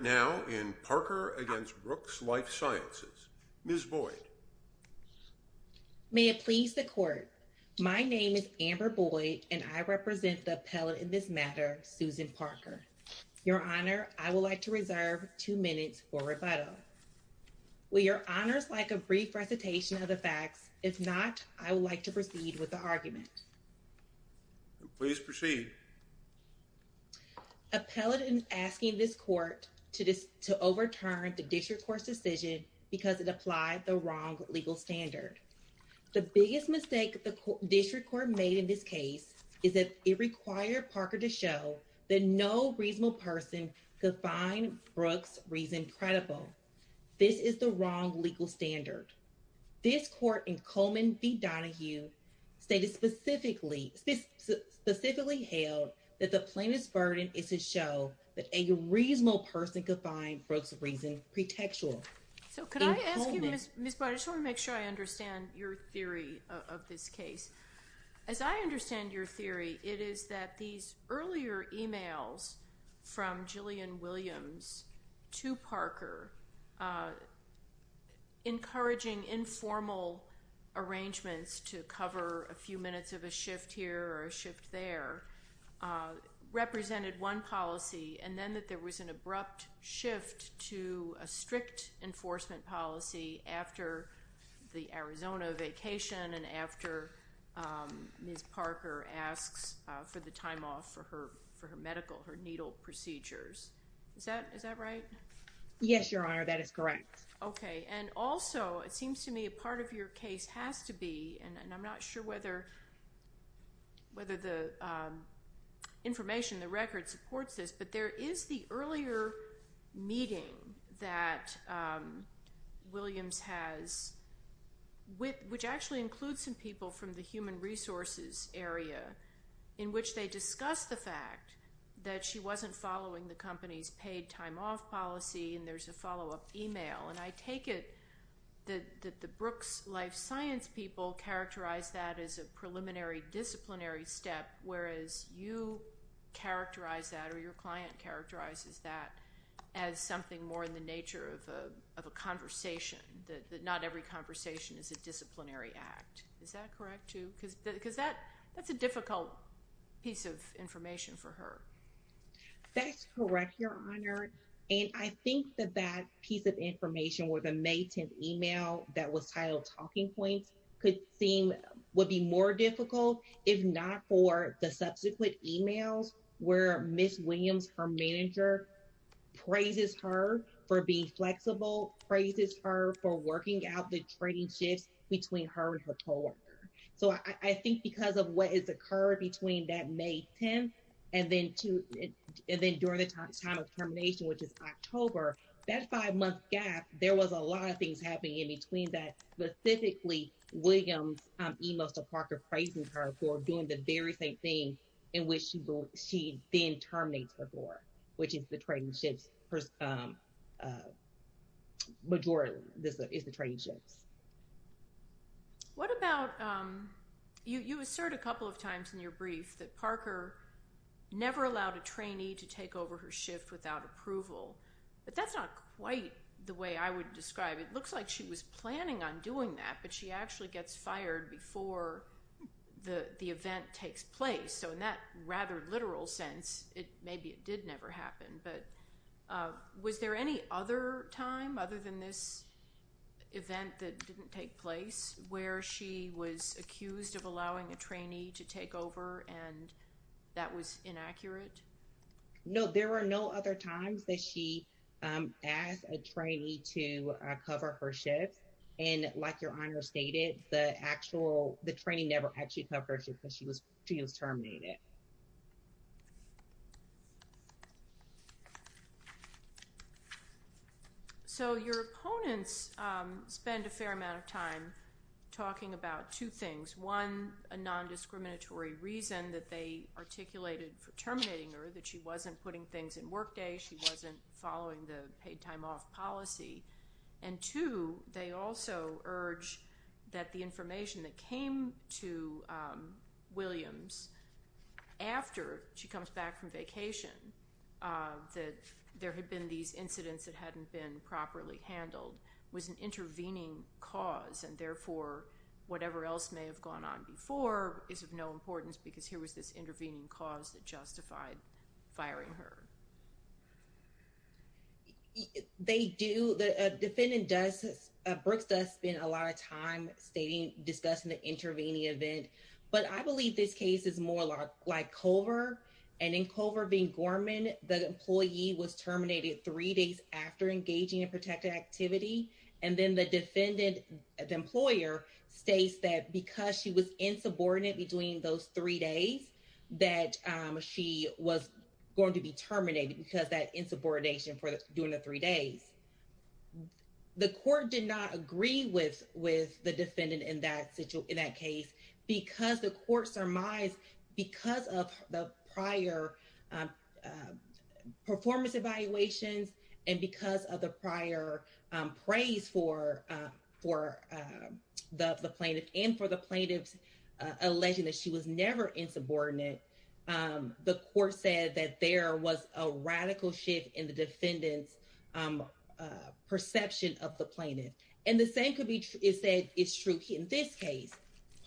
Appellant now in Parker v. Brooks Life Sciences, Ms. Boyd. May it please the Court. My name is Amber Boyd, and I represent the appellant in this matter, Susan Parker. Your Honor, I would like to reserve two minutes for rebuttal. Will your Honors like a brief recitation of the facts? If not, I would like to proceed with the argument. Please proceed. Appellant is asking this Court to overturn the District Court's decision because it applied the wrong legal standard. The biggest mistake the District Court made in this case is that it required Parker to show that no reasonable person could find Brooks' reason credible. This is the wrong legal standard. This Court in Coleman v. Donahue stated specifically, specifically held that the plaintiff's burden is to show that a reasonable person could find Brooks' reason pretextual. So could I ask you, Ms. Boyd, I just want to make sure I understand your theory of this case. As I understand your theory, it is that these earlier emails from Jillian Williams to Parker, encouraging informal arrangements to cover a few minutes of a shift here or a shift there, represented one policy, and then that there was an abrupt shift to a strict enforcement policy after the Arizona vacation and after Ms. Parker asks for the time off for her medical, her needle procedures. Is that right? Yes, Your Honor, that is correct. Okay, and also it seems to me a part of your case has to be, and I'm not sure whether the information, the record supports this, but there is the earlier meeting that Williams has, which actually includes some people from the human resources area, in which they discuss the fact that she wasn't following the company's paid time off policy, and there's a follow-up email. And I take it that the Brooks Life Science people characterize that as a preliminary disciplinary step, whereas you characterize that, or your client characterizes that, as something more in the nature of a conversation, that not every conversation is a disciplinary act. Is that correct, too? Because that's a difficult piece of information for her. That's correct, Your Honor, and I think that that piece of information, or the May 10th email that was titled talking points, could seem, would be more difficult if not for the subsequent emails where Ms. Williams, her manager, praises her for being flexible, praises her for working out the trading shifts between her and her coworker. So, I think because of what has occurred between that May 10th and then during the time of termination, which is October, that five-month gap, there was a lot of things happening in between that. Specifically, Williams' emails to Parker praising her for doing the very same thing in which she then terminates her door, which is the trading shifts, majority of the trading shifts. What about, you assert a couple of times in your brief that Parker never allowed a trainee to take over her shift without approval. But that's not quite the way I would describe it. It looks like she was planning on doing that, but she actually gets fired before the event takes place. So, in that rather literal sense, maybe it did never happen, but was there any other time other than this event that didn't take place where she was accused of allowing a trainee to take over and that was inaccurate? No, there were no other times that she asked a trainee to cover her shift. And like your Honor stated, the actual, the trainee never actually covered her shift because she was terminated. So, your opponents spend a fair amount of time talking about two things. One, a non-discriminatory reason that they articulated for terminating her, that she wasn't putting things in workday, she wasn't following the paid time off policy. And two, they also urge that the information that came to Williams after she comes back from vacation, that there had been these incidents that hadn't been properly handled, was an intervening cause and therefore, whatever else may have gone on before is of no importance because here was this intervening cause that justified firing her. They do, the defendant does, Brooks does spend a lot of time stating, discussing the intervening event. But I believe this case is more like Culver, and in Culver being Gorman, the employee was terminated three days after engaging in protective activity. And then the defendant, the employer, states that because she was insubordinate between those three days, that she was going to be terminated because of that insubordination during the three days. The court did not agree with the defendant in that case because the court surmised, because of the prior performance evaluations and because of the prior praise for the plaintiff and for the plaintiff's alleging that she was never insubordinate, the court said that there was a radical shift in the defendant's perception of the plaintiff. And the same could be, is that it's true in this case.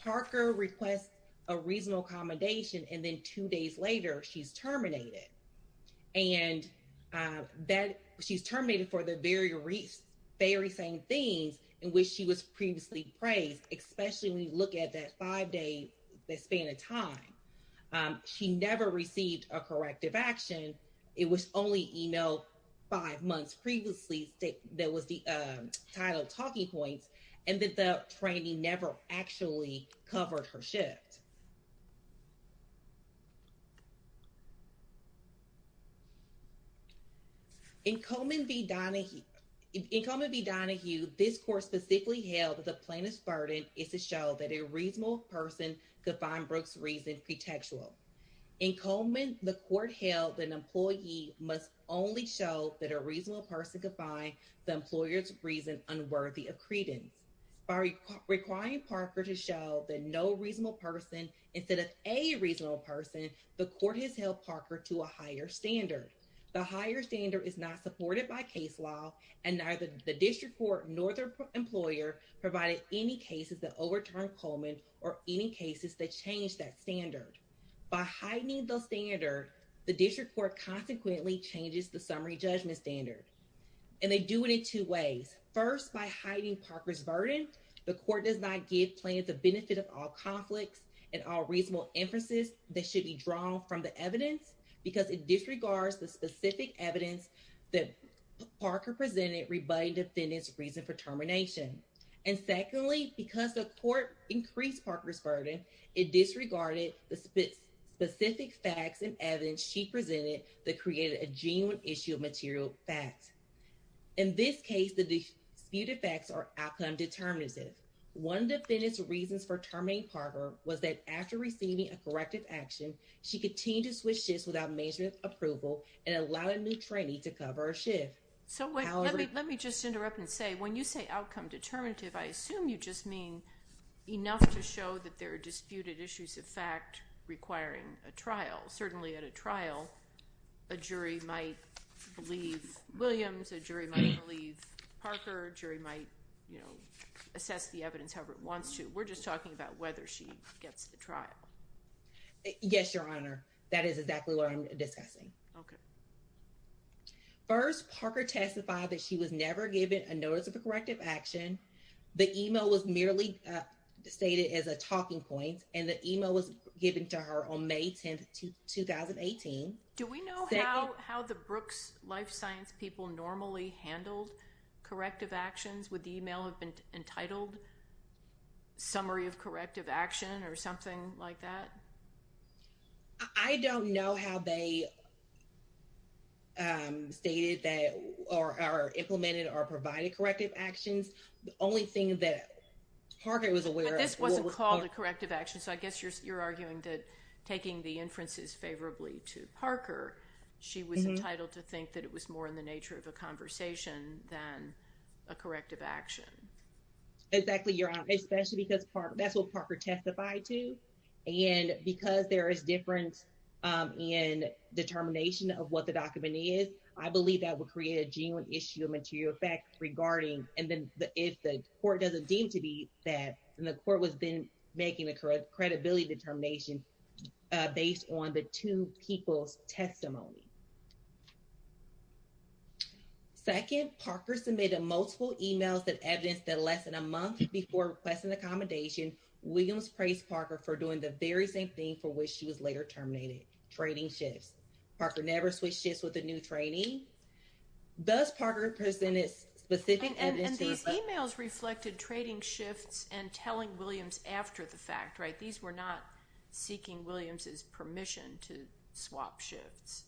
Parker requests a reasonable accommodation and then two days later, she's terminated. And that she's terminated for the very same things in which she was previously praised, especially when you look at that five day span of time. She never received a corrective action. It was only, you know, five months previously that was the title talking points and that the training never actually covered her shift. In Coleman v. Donahue, this court specifically held that the plaintiff's burden is to show that a reasonable person could find Brooke's reason pretextual. In Coleman, the court held that an employee must only show that a reasonable person could find the employer's reason unworthy of credence. By requiring Parker to show that no reasonable person instead of a reasonable person, the court has held Parker to a higher standard. The higher standard is not supported by case law and neither the district court nor their employer provided any cases that overturned Coleman or any cases that changed that standard. By heightening the standard, the district court consequently changes the summary judgment standard. And they do it in two ways. First, by hiding Parker's burden, the court does not give plaintiff the benefit of all conflicts and all reasonable emphases that should be drawn from the evidence because it disregards the specific evidence that Parker presented rebutting defendant's reason for termination. And secondly, because the court increased Parker's burden, it disregarded the specific facts and evidence she presented that created a genuine issue of material facts. In this case, the disputed facts are outcome determinative. One of the defendant's reasons for terminating Parker was that after receiving a corrective action, she continued to switch shifts without management approval and allowed a new trainee to cover her shift. So let me just interrupt and say, when you say outcome determinative, I assume you just mean enough to show that there are disputed issues of fact requiring a trial. Certainly at a trial, a jury might believe Williams, a jury might believe Parker, a jury might, you know, assess the evidence however it wants to. We're just talking about whether she gets the trial. Yes, Your Honor. That is exactly what I'm discussing. Okay. First, Parker testified that she was never given a notice of a corrective action. The email was merely stated as a talking point, and the email was given to her on May 10, 2018. Do we know how the Brooks Life Science people normally handled corrective actions? Would the email have been entitled summary of corrective action or something like that? I don't know how they stated that or are implemented or provided corrective actions. The only thing that Parker was aware of- But this wasn't called a corrective action. So I guess you're arguing that taking the inferences favorably to Parker, she was entitled to think that it was more in the nature of a conversation than a corrective action. Exactly, Your Honor. Especially because that's what Parker testified to. And because there is difference in determination of what the document is, I believe that would create a genuine issue of material effect regarding- And then if the court doesn't deem to be that, and the court was then making the credibility determination based on the two people's testimony. Second, Parker submitted multiple emails that evidence that less than a month before requesting accommodation, Williams praised Parker for doing the very same thing for which she was later terminated, trading shifts. Parker never switched shifts with a new trainee. Thus, Parker presented specific evidence- And these emails reflected trading shifts and telling Williams after the fact, right? These were not seeking Williams's permission to swap shifts.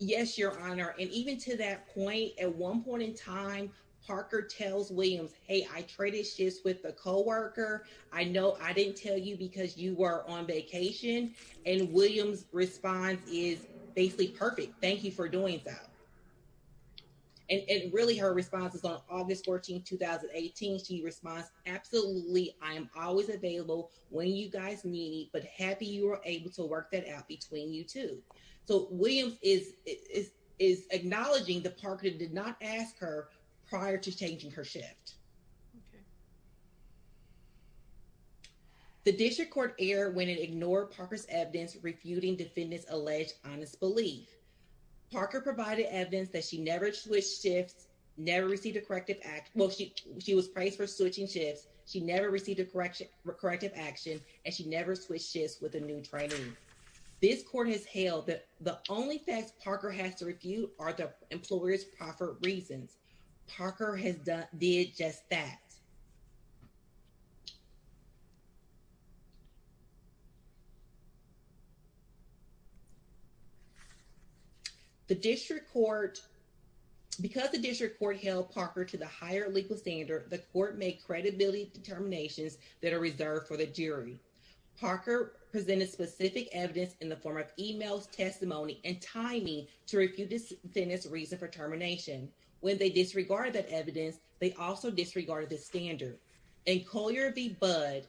Yes, Your Honor. And even to that point, at one point in time, Parker tells Williams, hey, I traded shifts with the coworker. I know I didn't tell you because you were on vacation. And Williams's response is basically perfect. Thank you for doing that. And really, her response is on August 14, 2018. She responds, absolutely. I am always available when you guys need me, but happy you were able to work that out between you two. So Williams is acknowledging that Parker did not ask her prior to changing her shift. Okay. The district court erred when it ignored Parker's evidence refuting defendant's alleged honest belief. Parker provided evidence that she never switched shifts, never received a corrective- Well, she was praised for switching shifts. She never received a corrective action, and she never switched shifts with a new trainee. This court has held that the only facts Parker has to refute are the employer's proper reasons. Parker has done- did just that. The district court- because the district court held Parker to the higher legal standard, the court made credibility determinations that are reserved for the jury. Parker presented specific evidence in the form of emails, testimony, and timing to refute defendant's reason for termination. When they disregarded that evidence, they also disregarded the standard. In Collier v. Budd,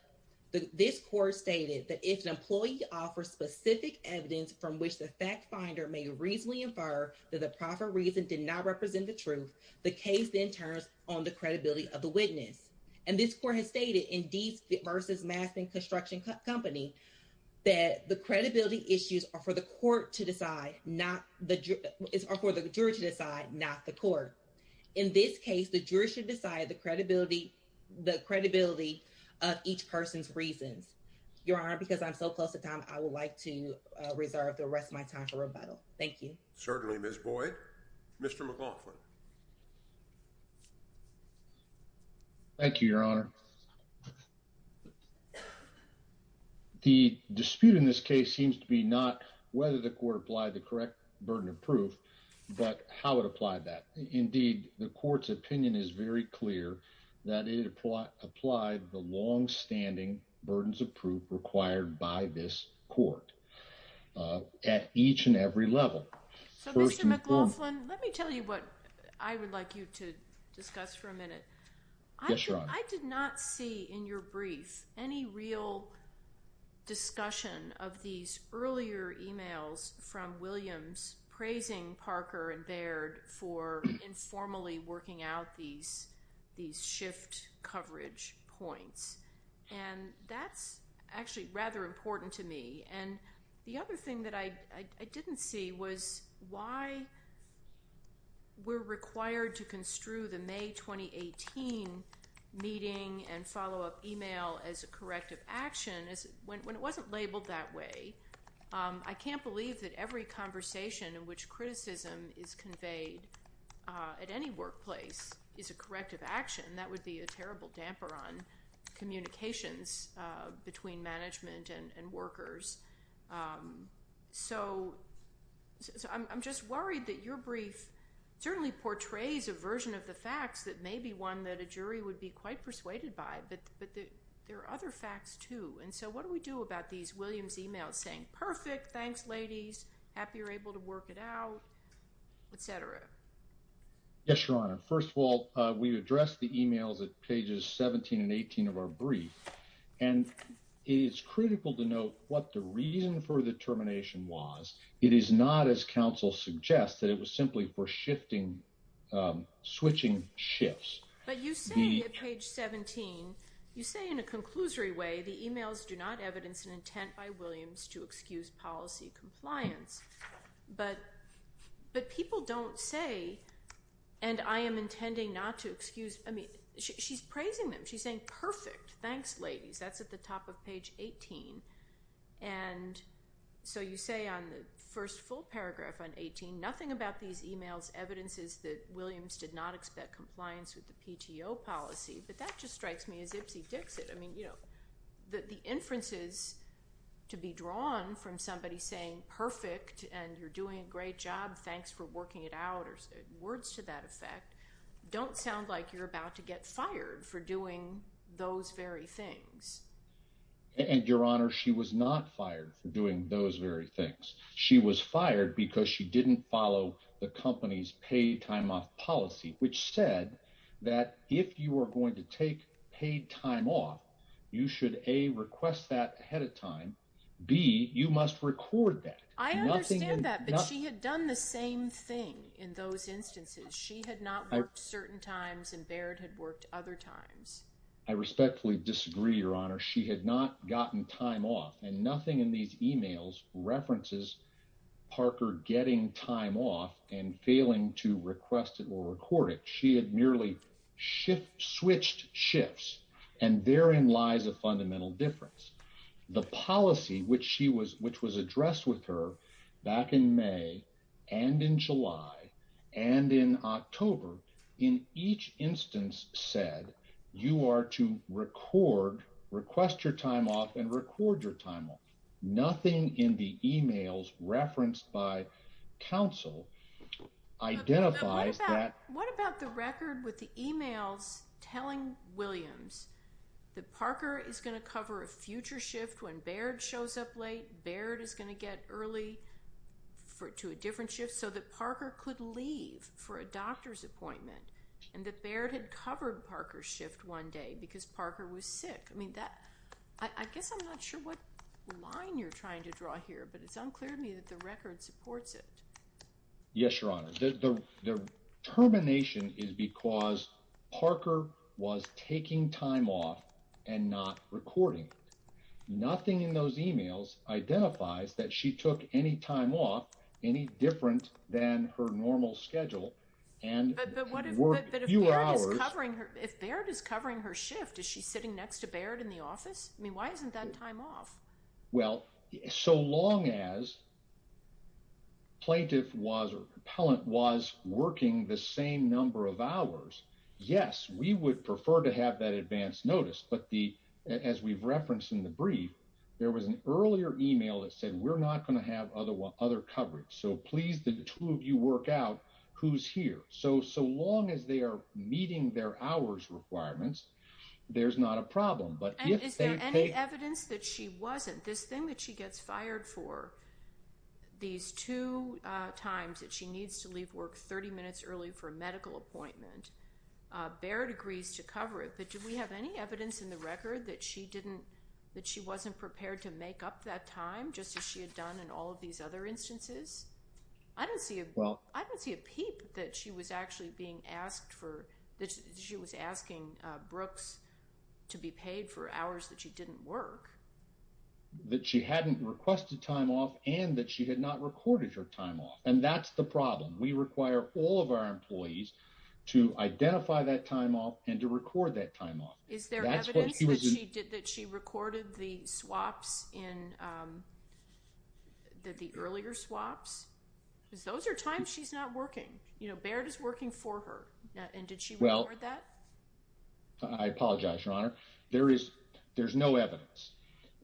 this court stated that if an employee offers specific evidence from which the fact finder may reasonably infer that the proper reason did not represent the truth, the case then turns on the credibility of the witness. And this court has stated in Dease v. Maskman Construction Company that the credibility issues are for the jury to decide, not the court. In this case, the jury should decide the credibility of each person's reasons. Your Honor, because I'm so close to time, I would like to reserve the rest of my time for rebuttal. Thank you. Certainly, Ms. Boyd. Mr. McLaughlin. Thank you, Your Honor. The dispute in this case seems to be not whether the court applied the correct burden of proof, but how it applied that. Indeed, the court's opinion is very clear that it applied the long-standing burdens of proof required by this court at each and every level. So, Mr. McLaughlin, let me tell you what I would like you to discuss for a minute. Yes, Your Honor. I did not see in your brief any real discussion of these earlier emails from Williams praising Parker and Baird for informally working out these shift coverage points. And that's actually rather important to me. And the other thing that I didn't see was why we're required to construe the May 2018 meeting and follow-up email as a corrective action when it wasn't labeled that way. I can't believe that every conversation in which criticism is conveyed at any workplace is a corrective action. That would be a terrible damper on communications between management and workers. So, I'm just worried that your brief certainly portrays a version of the facts that may be one that a jury would be quite persuaded by, but there are other facts, too. And so what do we do about these Williams emails saying, perfect, thanks, ladies, happy you're able to work it out, et cetera? Yes, Your Honor. First of all, we addressed the emails at pages 17 and 18 of our brief. And it is critical to note what the reason for the termination was. It is not, as counsel suggests, that it was simply for switching shifts. But you say at page 17, you say in a conclusory way, the emails do not evidence an intent by Williams to excuse policy compliance. But people don't say, and I am intending not to excuse. I mean, she's praising them. She's saying, perfect, thanks, ladies. That's at the top of page 18. And so you say on the first full paragraph on 18, nothing about these emails evidences that Williams did not expect compliance with the PTO policy. But that just strikes me as ipsy dixit. I mean, the inferences to be drawn from somebody saying, perfect, and you're doing a great job, thanks for working it out, or words to that effect, don't sound like you're about to get fired for doing those very things. And your honor, she was not fired for doing those very things. She was fired because she didn't follow the company's paid time off policy, which said that if you are going to take paid time off, you should A, request that ahead of time, B, you must record that. I understand that, but she had done the same thing in those instances. She had not worked certain times, and Baird had worked other times. I respectfully disagree, your honor. She had not gotten time off. And nothing in these emails references Parker getting time off and failing to request it or record it. She had merely switched shifts. And therein lies a fundamental difference. The policy which was addressed with her back in May, and in July, and in October, in each instance said, you are to record, request your time off, and record your time off. Nothing in the emails referenced by counsel identifies that. But what about the record with the emails telling Williams that Parker is going to cover a future shift when Baird shows up late, Baird is going to get early to a different shift, so that Parker could leave for a doctor's appointment, and that Baird had covered Parker's shift one day because Parker was sick. I mean, I guess I'm not sure what line you're trying to draw here, but it's unclear to me that the record supports it. Yes, your honor. The termination is because Parker was taking time off and not recording it. Nothing in those emails identifies that she took any time off, any different than her normal schedule. But if Baird is covering her shift, is she sitting next to Baird in the office? I mean, why isn't that time off? Well, so long as plaintiff was, or appellant was, working the same number of hours, yes, we would prefer to have that advance notice. But as we've referenced in the brief, there was an earlier email that said, we're not going to have other coverage. So please, the two of you work out who's here. So, so long as they are meeting their hours requirements, there's not a problem. And is there any evidence that she wasn't? This thing that she gets fired for, these two times that she needs to leave work 30 minutes early for a medical appointment, Baird agrees to cover it. Do we have any evidence in the record that she didn't, that she wasn't prepared to make up that time, just as she had done in all of these other instances? I don't see, I don't see a peep that she was actually being asked for, that she was asking Brooks to be paid for hours that she didn't work. That she hadn't requested time off and that she had not recorded her time off. And that's the problem. We require all of our employees to identify that time off and to record that time off. Is there evidence that she did, that she recorded the swaps in, that the earlier swaps, because those are times she's not working. You know, Baird is working for her. And did she record that? I apologize, your honor. There is, there's no evidence.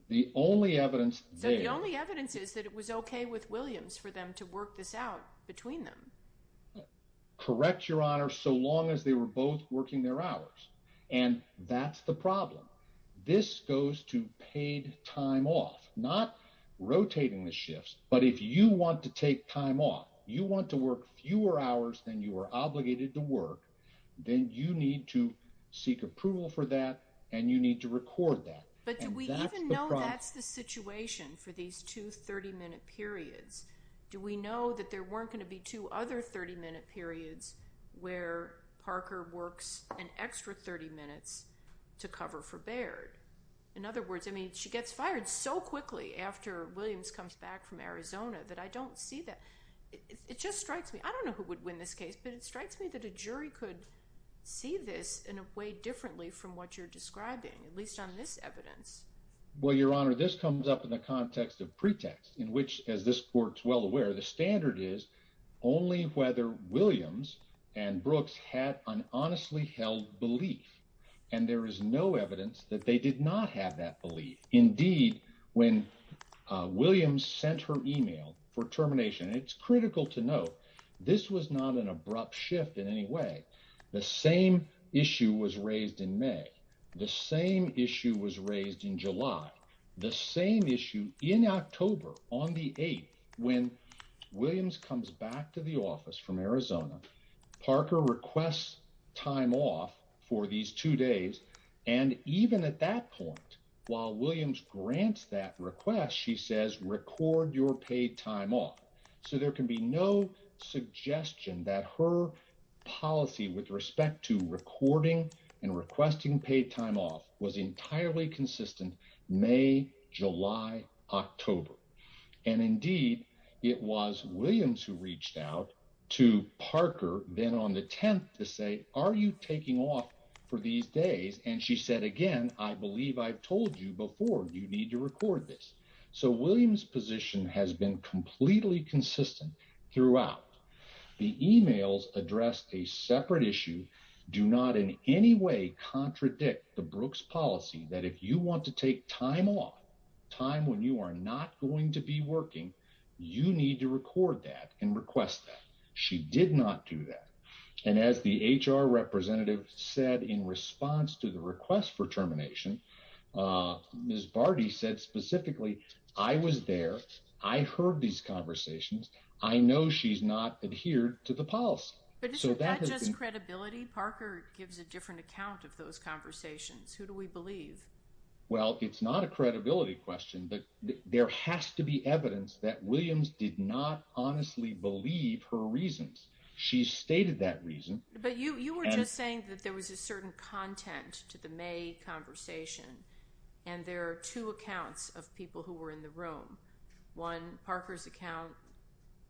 The only evidence. So the only evidence is that it was okay with Williams for them to work this out between them. Correct, your honor. So long as they were both working their hours. And that's the problem. This goes to paid time off, not rotating the shifts. But if you want to take time off, you want to work fewer hours than you are obligated to work. Then you need to seek approval for that. And you need to record that. But do we even know that's the situation for these two 30 minute periods? Do we know that there weren't going to be two other 30 minute periods where Parker works an extra 30 minutes to cover for Baird? In other words, I mean, she gets fired so quickly after Williams comes back from Arizona that I don't see that. It just strikes me, I don't know who would win this case, but it strikes me that a jury could see this in a way differently from what you're describing, at least on this evidence. Well, your honor, this comes up in the context of pretext, in which, as this court's well aware, the standard is only whether Williams and Brooks had an honestly held belief. And there is no evidence that they did not have that belief. Indeed, when Williams sent her email for termination, it's critical to note, this was not an abrupt shift in any way. The same issue was raised in May. The same issue was raised in July. The same issue in October on the 8th, when Williams comes back to the office from Arizona, Parker requests time off for these two days. And even at that point, while Williams grants that request, she says, record your paid time off. So there can be no suggestion that her policy with respect to recording and requesting paid time off was entirely consistent May, July, October. And indeed, it was Williams who reached out to Parker, then on the 10th to say, are you taking off for these days? And she said, again, I believe I've told you before, you need to record this. So Williams position has been completely consistent throughout. The emails addressed a separate issue do not in any way contradict the Brooks policy that if you want to take time off, time when you are not going to be working, you need to record that and request that. She did not do that. And as the HR representative said in response to the request for termination, Ms. Barty said specifically, I was there. I heard these conversations. I know she's not adhered to the policy. But is that just credibility? Parker gives a different account of those conversations. Who do we believe? Well, it's not a credibility question, but there has to be evidence that Williams did not honestly believe her reasons. She stated that reason. But you were just saying that there was a certain content to the May conversation. And there are two accounts of people who were in the room. One Parker's account,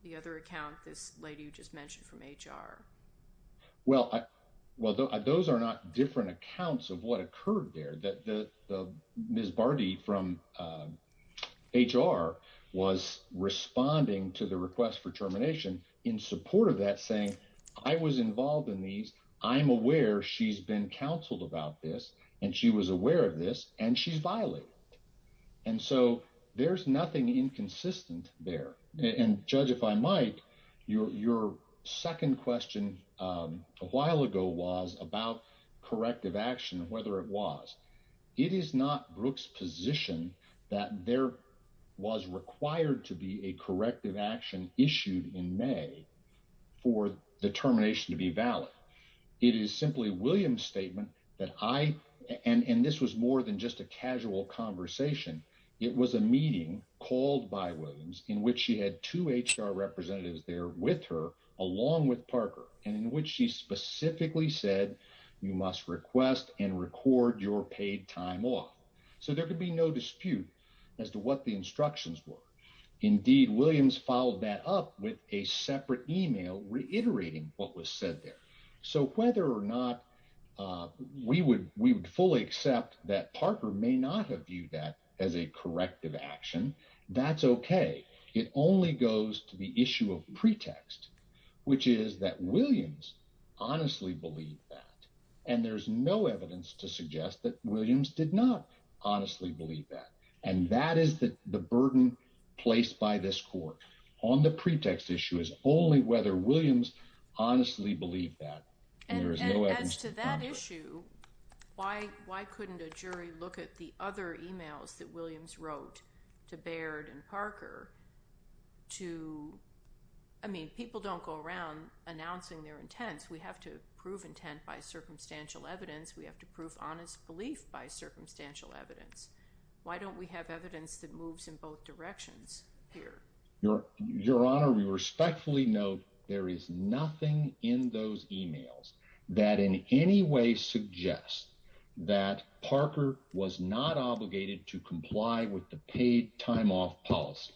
the other account, this lady you just mentioned from HR. Well, well, those are not different accounts of what occurred there. That the Ms. Barty from HR was responding to the request for termination in support of that saying, I was involved in these. I'm aware she's been counseled about this. And she was aware of this and she's violated. And so there's nothing inconsistent there. And Judge, if I might, your second question a while ago was about corrective action, whether it was. It is not Brooke's position that there was required to be a corrective action issued in May for the termination to be valid. It is simply Williams statement that I, and this was more than just a casual conversation. It was a meeting called by Williams in which she had two HR representatives there with her, along with Parker, and in which she specifically said, you must request and record your paid time off. So there could be no dispute as to what the instructions were. Indeed, Williams followed that up with a separate email reiterating what was said there. So whether or not we would fully accept that Parker may not have viewed that as a corrective action, that's okay. It only goes to the issue of pretext, which is that Williams honestly believed that. And there's no evidence to suggest that Williams did not honestly believe that. And that is the burden placed by this court on the pretext issue is only whether Williams honestly believed that. And as to that issue, why couldn't a jury look at the other emails that Williams wrote to Baird and Parker to, I mean, people don't go around announcing their intents. We have to prove intent by circumstantial evidence. We have to prove honest belief by circumstantial evidence. Why don't we have evidence that moves in both directions here? Your Honor, we respectfully note there is nothing in those emails that in any way suggests that Parker was not obligated to comply with the paid time off policy.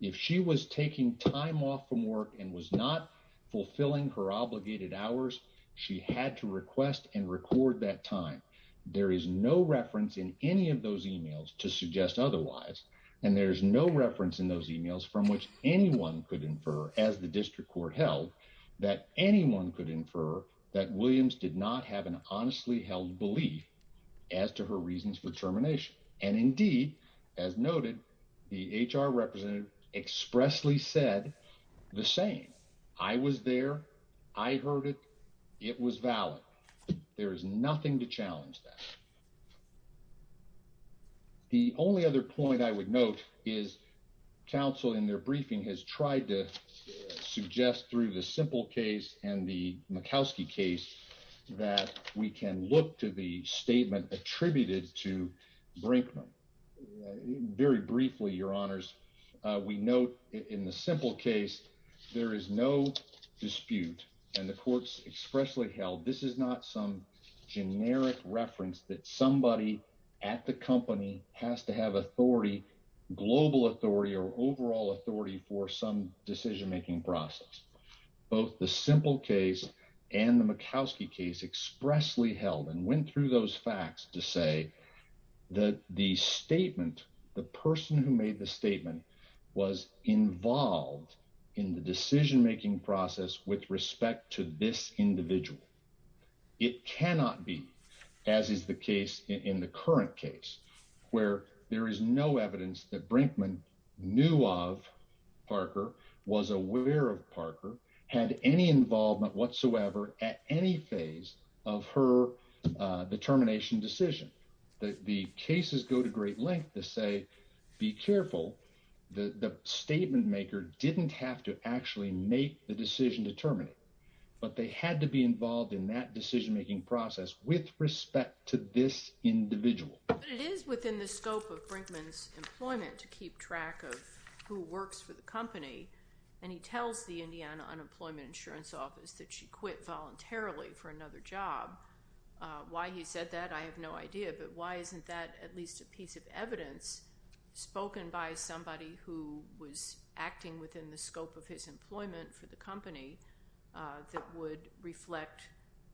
If she was taking time off from work and was not fulfilling her obligated hours, she had to request and record that time. There is no reference in any of those emails to suggest otherwise. And there's no reference in those emails from which anyone could infer as the district court held that anyone could infer that Williams did not have an honestly held belief as to her reasons for termination. And indeed, as noted, the HR representative expressly said the same. I was there. I heard it. It was valid. There is nothing to challenge that. The only other point I would note is counsel in their briefing has tried to suggest through the simple case and the Murkowski case that we can look to the statement attributed to Brinkman. Very briefly, Your Honors, we note in the simple case, there is no dispute. And the courts expressly held this is not some generic reference that somebody at the company has to have authority, global authority or overall authority for some decision-making process. Both the simple case and the Murkowski case expressly held and went through those facts to say that the statement, the person who made the statement was involved in the decision-making process with respect to this individual. It cannot be, as is the case in the current case, where there is no evidence that Brinkman knew of Parker, was aware of Parker, had any involvement whatsoever at any phase of her determination decision. The cases go to great length to say, be careful, the statement maker didn't have to actually make the decision to terminate, but they had to be involved in that decision-making process with respect to this individual. It is within the scope of Brinkman's employment to keep track of who works for the company. And he tells the Indiana Unemployment Insurance Office that she quit voluntarily for another job. Why he said that, I have no idea. But why isn't that at least a piece of evidence spoken by somebody who was acting within the scope of his employment for the company that would reflect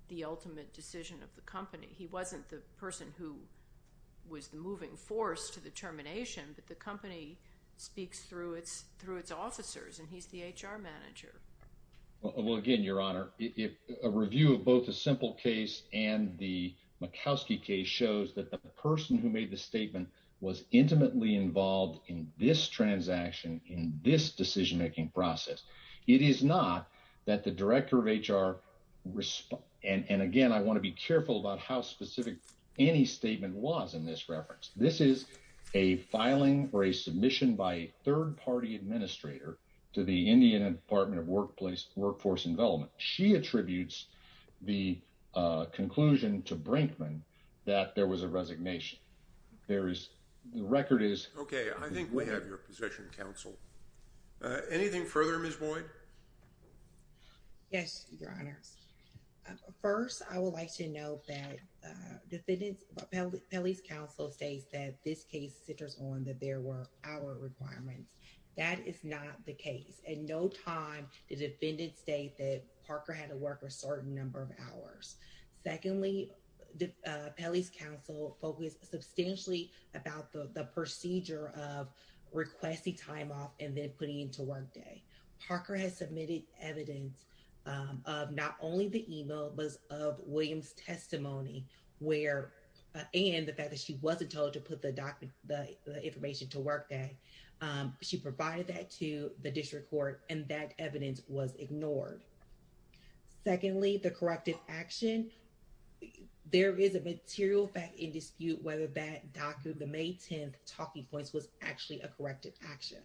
the ultimate decision of the company? He wasn't the person who was the moving force to the termination, but the company speaks through its officers, and he's the HR manager. Well, again, Your Honor, a review of both the simple case and the Makowski case shows that the person who made the statement was intimately involved in this transaction, in this decision-making process. It is not that the director of HR, and again, I want to be careful about how specific any statement was in this reference. This is a filing or a submission by a third-party administrator to the Indiana Department of Workforce and Development. She attributes the conclusion to Brinkman that there was a resignation. There is, the record is- Okay, I think we have your position, counsel. Anything further, Ms. Boyd? Yes, Your Honors. First, I would like to note that the defendant's, Pelley's counsel states that this case centers on that there were hour requirements. That is not the case. At no time did the defendant state that Parker had to work a certain number of hours. Secondly, Pelley's counsel focused substantially about the procedure of requesting time off and then putting it into workday. Parker has submitted evidence of not only the email, but of Williams' testimony, where, and the fact that she wasn't told to put the information to workday. She provided that to the district court and that evidence was ignored. Secondly, the corrective action, there is a material fact in dispute whether that the May 10th talking points was actually a corrective action.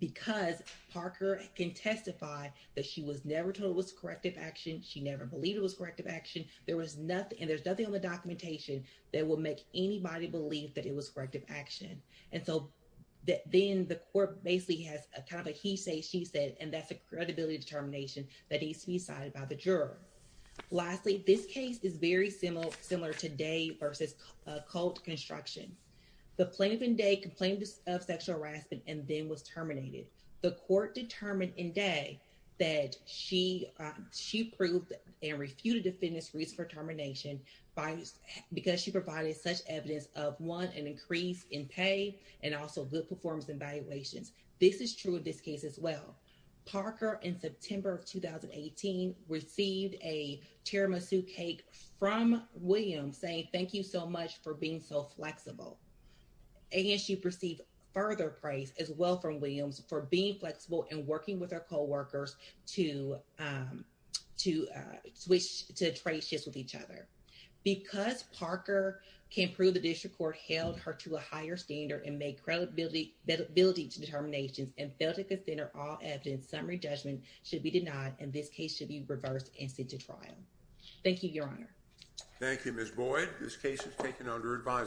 Because Parker can testify that she was never told it was corrective action. She never believed it was corrective action. There was nothing, and there's nothing on the documentation that would make anybody believe that it was corrective action. And so, then the court basically has a kind of a he say, she said, and that's a credibility determination that needs to be cited by the juror. Lastly, this case is very similar today versus cult construction. The plaintiff in day complained of sexual harassment and then was terminated. The court determined in day that she proved and refuted the defendant's reason for termination because she provided such evidence of one, an increase in pay, and also good performance evaluations. This is true of this case as well. Parker in September of 2018 received a tiramisu cake from Williams saying, thank you so much for being so flexible. And she perceived further praise as well from Williams for being flexible and working with our coworkers to trade shifts with each other. Because Parker can prove the district court held her to a higher standard and make credibility to determinations and fail to consider all evidence, summary judgment should be denied, and this case should be reversed and sent to trial. Thank you, your honor. Thank you, Ms. Boyd. This case is taken under advisement.